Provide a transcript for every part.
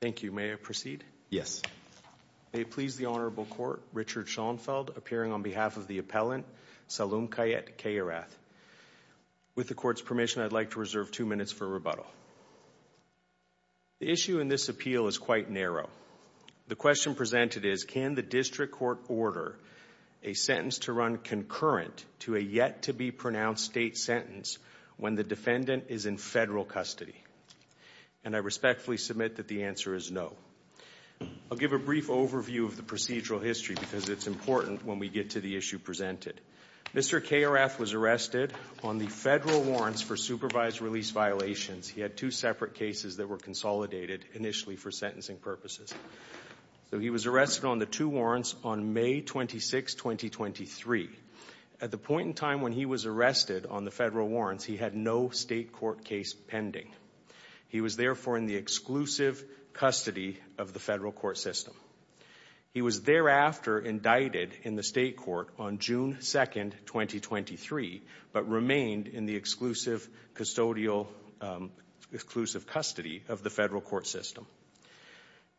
Thank you. May I proceed? Yes. May it please the Honorable Court, Richard Schoenfeld, appearing on behalf of the appellant, Salum Kayat Kayarath. With the Court's permission, I'd like to reserve two minutes for rebuttal. The issue in this appeal is quite narrow. The question presented is, can the District Court order a sentence to run concurrent to a yet-to-be-pronounced state sentence when the defendant is in federal custody? And I respectfully submit that the answer is no. I'll give a brief overview of the procedural history because it's important when we get to the issue presented. Mr. Kayarath was arrested on the federal warrants for supervised release violations. He had two separate cases that were consolidated initially for sentencing purposes. So he was arrested on the two warrants on May 26, 2023. At the point in time when he was arrested on the federal warrants, he had no state court case pending. He was therefore in the exclusive custody of the federal court system. He was thereafter indicted in the state court on June 2, 2023, but remained in the exclusive custodial, exclusive custody of the federal court system.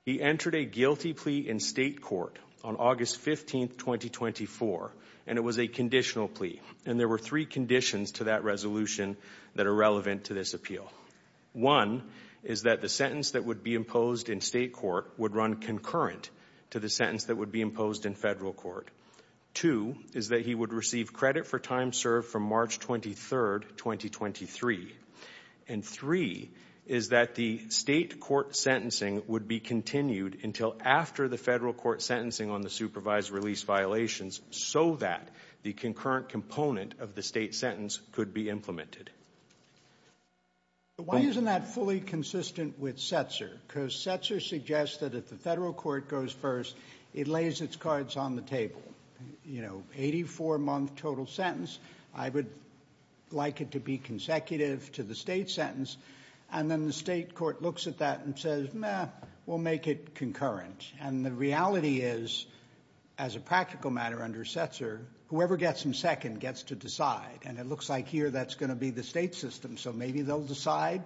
He entered a guilty plea in state court on August 15, 2024, and it was a conditional plea. And there were three conditions to that resolution that are relevant to this appeal. One is that the sentence that would be imposed in state court would run concurrent to the sentence that would be imposed in federal court. Two is that he would receive credit for time served from March 23, 2023. And three is that the state court sentencing would be continued until after the federal court sentencing on the supervised release violations so that the concurrent component of the state sentence could be implemented. Why isn't that fully consistent with Setzer? Because Setzer suggests that if the federal court goes first, it lays its cards on the table. You know, 84-month total sentence, I would like it to be consecutive to the state sentence, and then the state court looks at that and says, meh, we'll make it concurrent. And the reality is, as a practical matter under Setzer, whoever gets in second gets to decide. And it looks like here that's going to be the state system. So maybe they'll decide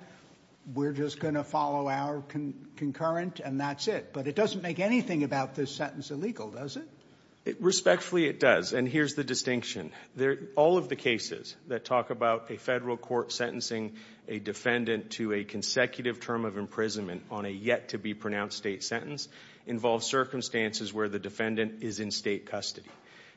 we're just going to follow our concurrent and that's it. But it doesn't make anything about this sentence illegal, does it? Respectfully, it does. And here's the distinction. All of the cases that talk about a federal court sentencing a defendant to a consecutive term of imprisonment on a to be pronounced state sentence involve circumstances where the defendant is in state custody.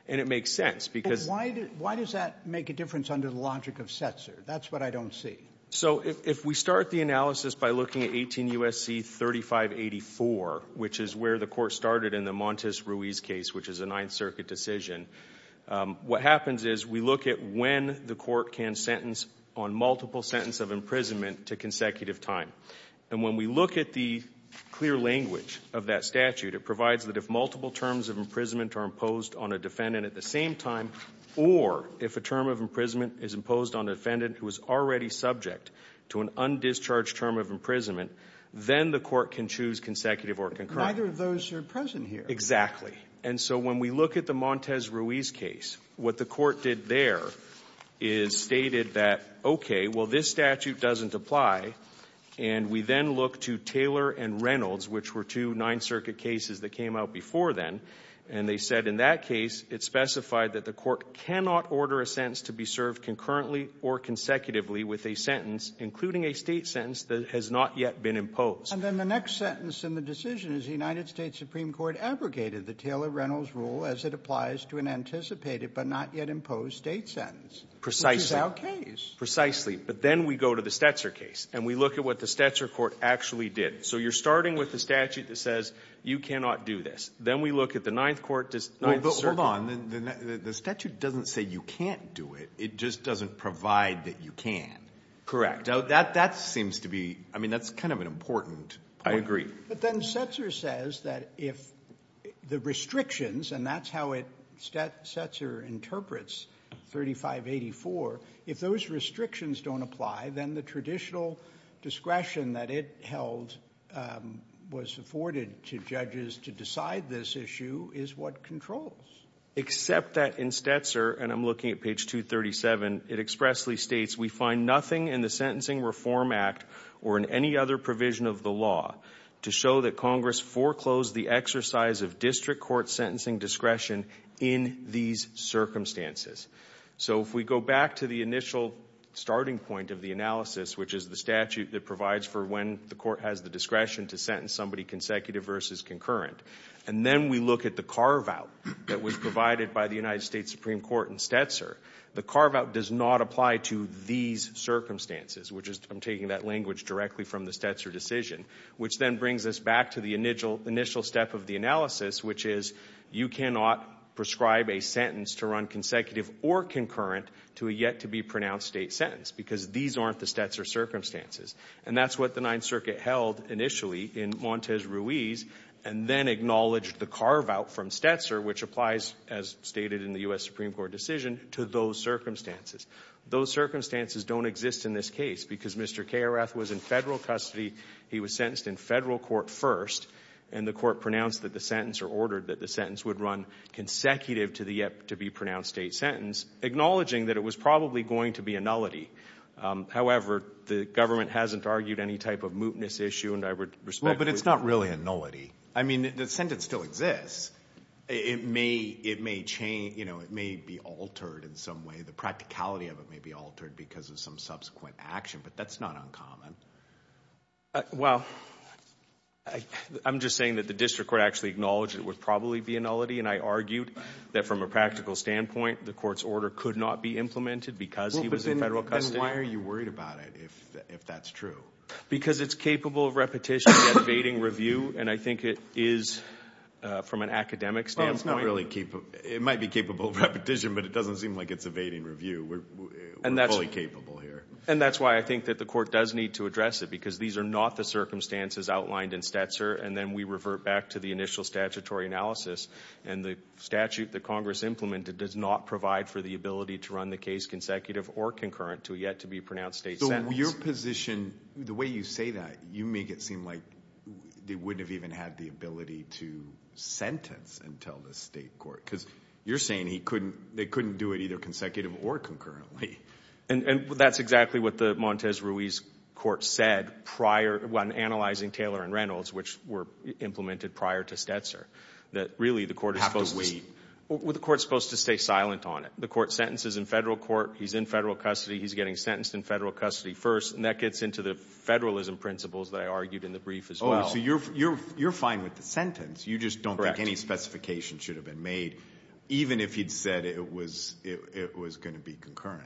And it makes sense because... Why does that make a difference under the logic of Setzer? That's what I don't see. So if we start the analysis by looking at 18 U.S.C. 3584, which is where the court started in the Montes Ruiz case, which is a Ninth Circuit decision, what happens is we look at when the court can sentence on multiple sentence of imprisonment to consecutive time. And when we look at the clear language of that statute, it provides that if multiple terms of imprisonment are imposed on a defendant at the same time, or if a term of imprisonment is imposed on a defendant who is already subject to an undischarged term of imprisonment, then the court can choose consecutive or concurrent. Neither of those are present here. Exactly. And so when we look at the Montes Ruiz case, what the court did there is stated that, okay, well, this statute doesn't apply. And we then look to Taylor and Reynolds, which were two Ninth Circuit cases that came out before then. And they said in that case, it specified that the court cannot order a sentence to be served concurrently or consecutively with a sentence, including a state sentence, that has not yet been imposed. And then the next sentence in the decision is the United States Supreme Court abrogated the Taylor-Reynolds rule as it applies to an anticipated but not yet imposed state sentence. Precisely. Which is our case. Precisely. But then we go to the Stetzer case, and we look at what the Stetzer court actually did. So you're starting with the statute that says you cannot do this. Then we look at the Ninth Court, the Ninth Circuit. But hold on. The statute doesn't say you can't do it. It just doesn't provide that you can. Correct. Now, that seems to be, I mean, that's kind of an important point. I agree. But then Stetzer says that if the restrictions, and that's how it Stetzer interprets 3584, if those restrictions don't apply, then the traditional discretion that it held was afforded to judges to decide this issue is what controls. Except that in Stetzer, and I'm looking at page 237, it expressly states, we find nothing in the Sentencing Reform Act or in any other provision of the law to show that Congress foreclosed the exercise of district court sentencing discretion in these circumstances. So if we go back to the initial starting point of the analysis, which is the statute that provides for when the court has the discretion to sentence somebody consecutive versus concurrent, and then we look at the carve-out that was provided by the United States Supreme Court in Stetzer, the carve-out does not apply to these circumstances, which is, I'm taking that language directly from the Stetzer decision, which then brings us back to the initial step of the analysis, which is, you cannot prescribe a sentence to run consecutive or concurrent to a yet-to-be-pronounced state sentence, because these aren't the Stetzer circumstances. And that's what the Ninth Circuit held initially in Montez Ruiz, and then acknowledged the carve-out from Stetzer, which applies, as stated in the U.S. Supreme Court decision, to those circumstances. Those circumstances don't exist in this case, because Mr. Karrath was in federal custody, he was sentenced in federal court first, and the court pronounced that the sentence or ordered that the sentence would run consecutive to the yet-to-be-pronounced state sentence, acknowledging that it was probably going to be a nullity. However, the government hasn't argued any type of mootness issue, and I would respect that. Well, but it's not really a nullity. I mean, the sentence still exists. It may change, you know, it may be altered in some way, the practicality of it may be altered because of some subsequent action, but that's not uncommon. Well, I'm just saying that the district court actually acknowledged it would probably be a nullity, and I argued that from a practical standpoint, the court's order could not be implemented because he was in federal custody. Well, but then why are you worried about it, if that's true? Because it's capable of repetition, yet evading review, and I think it is, from an academic standpoint. Well, it's not really capable. It might be capable of repetition, but it doesn't seem like it's evading review. We're fully capable here. And that's why I think that the court does need to address it because these are not the circumstances outlined in Stetzer, and then we revert back to the initial statutory analysis, and the statute that Congress implemented does not provide for the ability to run the case consecutive or concurrent to a yet-to-be-pronounced state sentence. So your position, the way you say that, you make it seem like they wouldn't have even had the ability to sentence until the state court, because you're saying they couldn't do it either consecutive or concurrently. And that's exactly what the Montez Ruiz court said prior, when analyzing Taylor and Reynolds, which were implemented prior to Stetzer, that really the court is supposed to stay silent on it. The court sentences in federal court, he's in federal custody, he's getting sentenced in federal custody first, and that gets into the federalism principles that I argued in the brief as well. Oh, so you're fine with the sentence. You just don't think any specification should have been made. Even if he'd said it was going to be concurrent.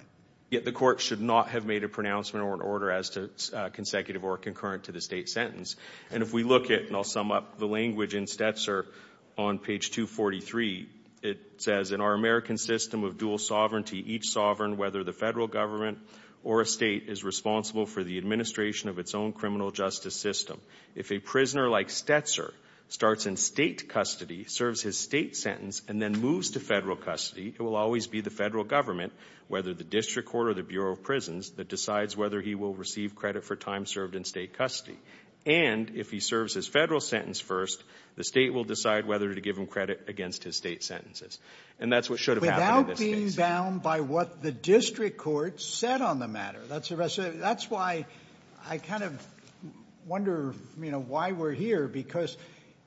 Yet the court should not have made a pronouncement or an order as to consecutive or concurrent to the state sentence. And if we look at, and I'll sum up the language in Stetzer on page 243, it says, in our American system of dual sovereignty, each sovereign, whether the federal government or a state, is responsible for the administration of its own criminal justice system. If a prisoner like Stetzer starts in state custody, serves his state sentence, and then moves to federal custody, it will always be the federal government, whether the district court or the Bureau of Prisons, that decides whether he will receive credit for time served in state custody. And if he serves his federal sentence first, the state will decide whether to give him credit against his state sentences. And that's what should have happened in this case. Without being bound by what the district court said on the matter. That's why I kind of wonder, you know, why we're here. Because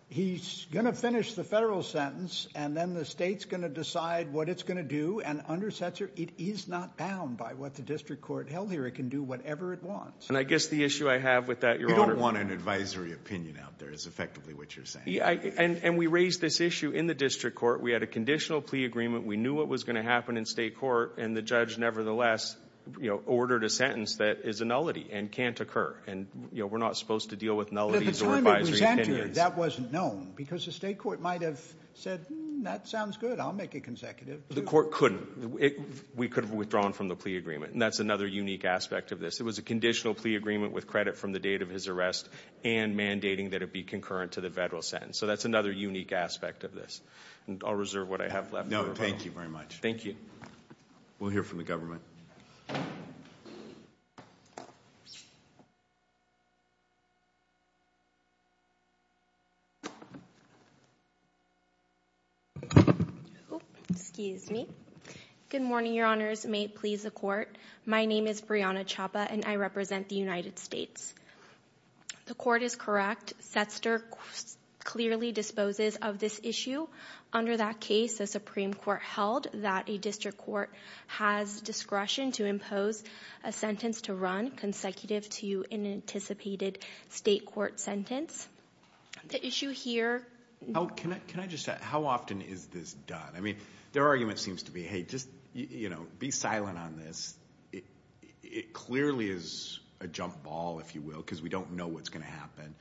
he's going to finish the federal sentence, and then the state's going to decide what it's going to do. And under Stetzer, it is not bound by what the district court held here. It can do whatever it wants. And I guess the issue I have with that, Your Honor. You don't want an advisory opinion out there, is effectively what you're saying. And we raised this issue in the district court. We had a conditional plea agreement. We knew what was going to happen in state court. And the judge, nevertheless, ordered a sentence that is a nullity and can't occur. And we're not supposed to deal with nullities or advisory opinions. But at the time it was entered, that wasn't known. Because the state court might have said, that sounds good, I'll make it consecutive. The court couldn't. We could have withdrawn from the plea agreement. And that's another unique aspect of this. It was a conditional plea agreement with credit from the date of his arrest, and mandating that it be concurrent to the federal sentence. So that's another unique aspect of this. And I'll reserve what I have left. No. Thank you very much. Thank you. We'll hear from the government. Excuse me. Good morning, Your Honors. May it please the court. My name is Brianna Chapa, and I represent the United States. The court is correct. Setzter clearly disposes of this issue. Under that case, the Supreme Court held that a district court has discretion to impose a sentence to run consecutive to an anticipated state court sentence. The issue here- Can I just ask, how often is this done? I mean, their argument seems to be, hey, just be silent on this. It clearly is a jump ball, if you will, because we don't know what's going to happen.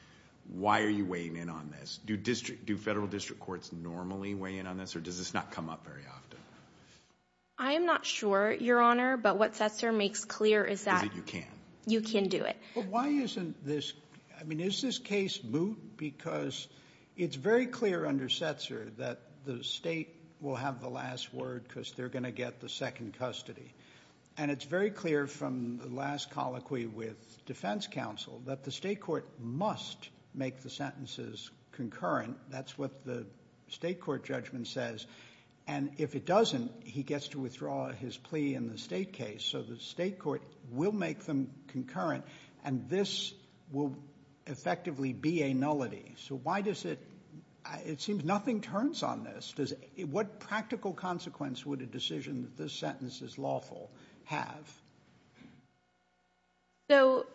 Why are you weighing in on this? Do federal district courts normally weigh in on this, or does this not come up very often? I am not sure, Your Honor. But what Setzter makes clear is that- Is that you can. You can do it. But why isn't this- I mean, is this case moot? Because it's very clear under Setzter that the state will have the last word because they're going to get the second custody. And it's very clear from the last colloquy with defense counsel that the state court must make the sentences concurrent. That's what the state court judgment says. And if it doesn't, he gets to withdraw his plea in the state case. So the state court will make them concurrent, and this will effectively be a nullity. So why does it- It seems nothing turns on this. What practical consequence would a decision that this sentence is lawful have? So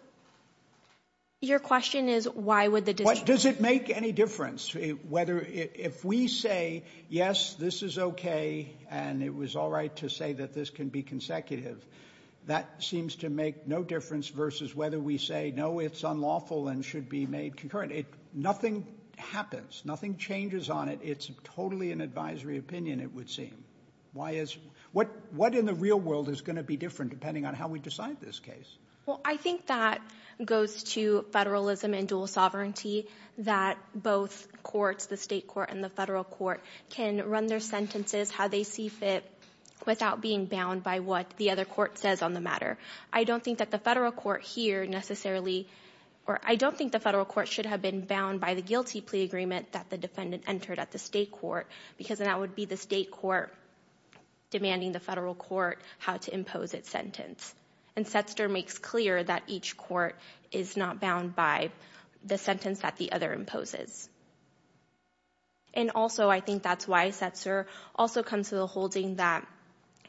your question is, why would the decision- Does it make any difference whether- If we say, yes, this is okay, and it was all right to say that this can be consecutive, that seems to make no difference versus whether we say, no, it's unlawful and should be made concurrent. Nothing happens. Nothing changes on it. It's totally an advisory opinion, it would seem. Why is- What in the real world is going to be different, depending on what you're saying? Depending on how we decide this case? Well, I think that goes to federalism and dual sovereignty, that both courts, the state court and the federal court, can run their sentences how they see fit without being bound by what the other court says on the matter. I don't think that the federal court here necessarily- Or I don't think the federal court should have been bound by the guilty plea agreement that the defendant entered at the state court, because then that would be the state court demanding the federal court how to impose its sentence. And Setzer makes clear that each court is not bound by the sentence that the other imposes. And also, I think that's why Setzer also comes to the holding that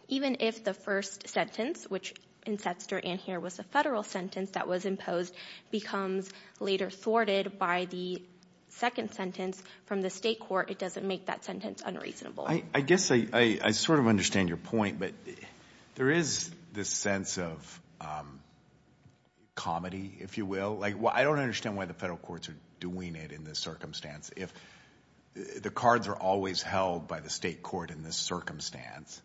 even if the first sentence, which in Setzer and here was the federal sentence that was imposed, becomes later thwarted by the second sentence from the state court, it doesn't make that sentence unreasonable. I guess I sort of understand your point, but there is this sense of comedy, if you will. I don't understand why the federal courts are doing it in this circumstance. If the cards are always held by the state court in this circumstance,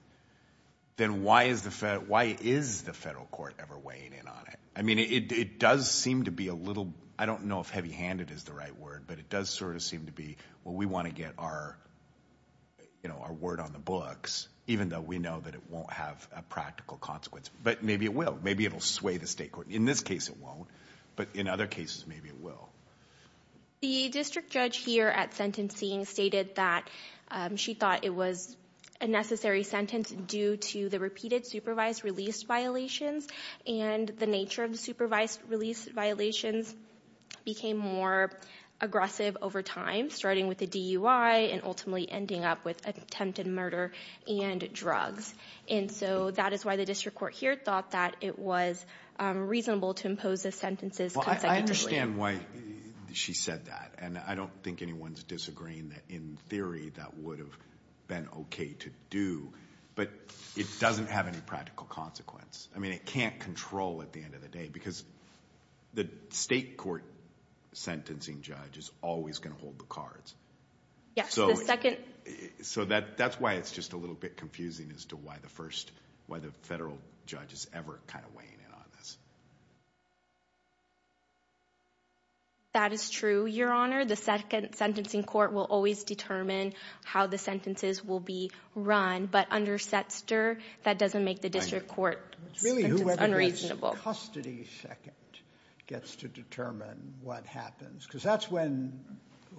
then why is the federal court ever weighing in on it? I mean, it does seem to be a little, I don't know if heavy handed is the right word, but it does sort of seem to be, well, we want to get our word on the books, even though we know that it won't have a practical consequence. But maybe it will. Maybe it'll sway the state court. In this case, it won't. But in other cases, maybe it will. The district judge here at sentencing stated that she thought it was a necessary sentence due to the repeated supervised release violations. And the nature of the supervised release violations became more aggressive over time, starting with the DUI and ultimately ending up with attempted murder and drugs. And so that is why the district court here thought that it was reasonable to impose the sentences consecutively. Well, I understand why she said that. And I don't think anyone's disagreeing that, in theory, that would have been okay to do. But it doesn't have any practical consequence. It can't control at the end of the day, because the state court sentencing judge is always going to hold the cards. So that's why it's just a little bit confusing as to why the federal judge is ever kind of weighing in on this. That is true, Your Honor. The second sentencing court will always determine how the sentences will be run. But under Setzer, that doesn't make the district court sentence unreasonable. It's really whoever gets custody second gets to determine what happens, because that's when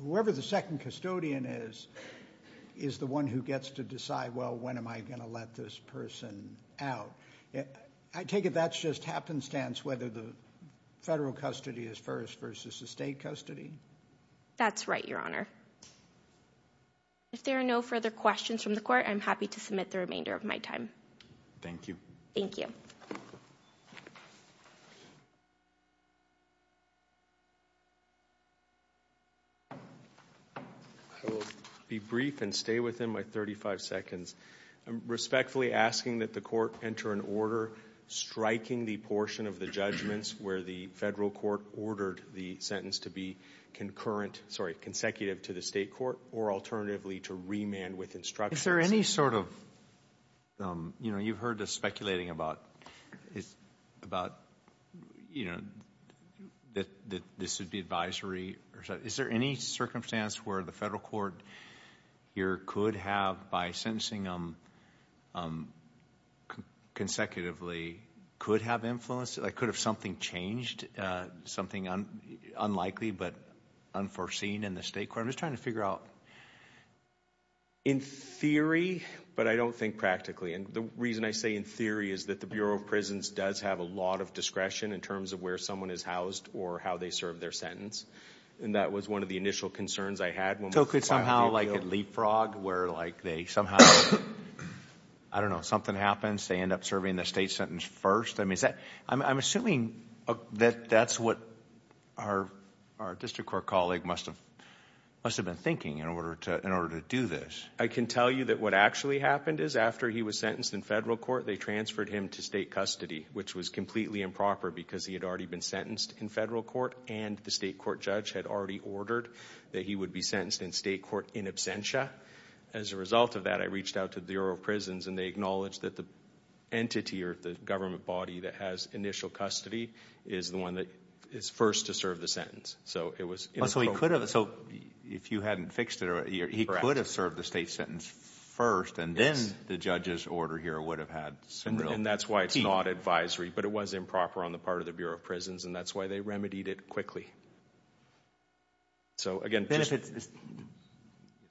whoever the second custodian is, is the one who gets to decide, well, when am I going to let this person out? I take it that's just happenstance, whether the federal custody is first versus the state custody? That's right, Your Honor. If there are no further questions from the court, I'm happy to submit the remainder of my time. Thank you. Thank you. I will be brief and stay within my 35 seconds. I'm respectfully asking that the court enter an order striking the portion of the judgments where the federal court ordered the sentence to be concurrent, sorry, consecutive to the state court, or alternatively to remand with instructions. Is there any sort of, you know, you've heard the speculating about, about, you know, that this would be advisory or something. Is there any circumstance where the federal court here could have, by sentencing them consecutively, could have influence, like could have something changed, something unlikely, but unforeseen in the state court? I'm just trying to figure out. In theory, but I don't think practically. And the reason I say in theory is that the Bureau of Prisons does have a lot of discretion in terms of where someone is housed or how they serve their sentence. And that was one of the initial concerns I had. So could somehow like a leapfrog where like they somehow, I don't know, something happens, they end up serving the state sentence first. I'm assuming that that's what our district court colleague must have been thinking in order to do this. I can tell you that what actually happened is after he was sentenced in federal court, they transferred him to state custody, which was completely improper because he had already been sentenced in federal court and the state court judge had already ordered that he would be sentenced in state court in absentia. As a result of that, I reached out to the Bureau of Prisons and they acknowledged that the government body that has initial custody is the one that is first to serve the sentence. If you hadn't fixed it, he could have served the state sentence first and then the judge's order here would have had some real teeth. And that's why it's not advisory, but it was improper on the part of the Bureau of Prisons and that's why they remedied it quickly.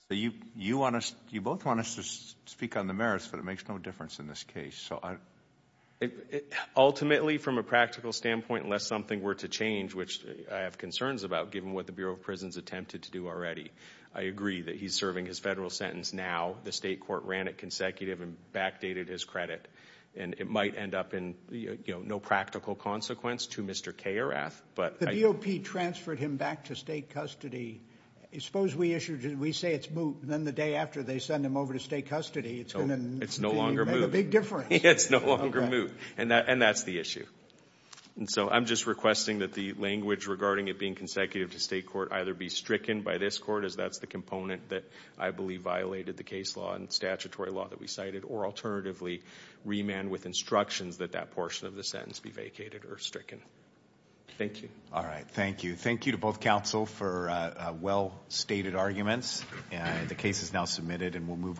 You both want us to speak on the merits, but it makes no difference in this case. So ultimately, from a practical standpoint, unless something were to change, which I have concerns about given what the Bureau of Prisons attempted to do already, I agree that he's serving his federal sentence now. The state court ran it consecutive and backdated his credit and it might end up in no practical consequence to Mr. Karrath, but... The DOP transferred him back to state custody. Suppose we say it's moot and then the day after they send him over to state custody, it's going to make a big difference. It's no longer moot and that's the issue. And so I'm just requesting that the language regarding it being consecutive to state court either be stricken by this court, as that's the component that I believe violated the case law and statutory law that we cited, or alternatively, remand with instructions that that portion of the sentence be vacated or stricken. Thank you. All right. Thank you. Thank you to both counsel for well-stated arguments. The case is now submitted and we'll move on.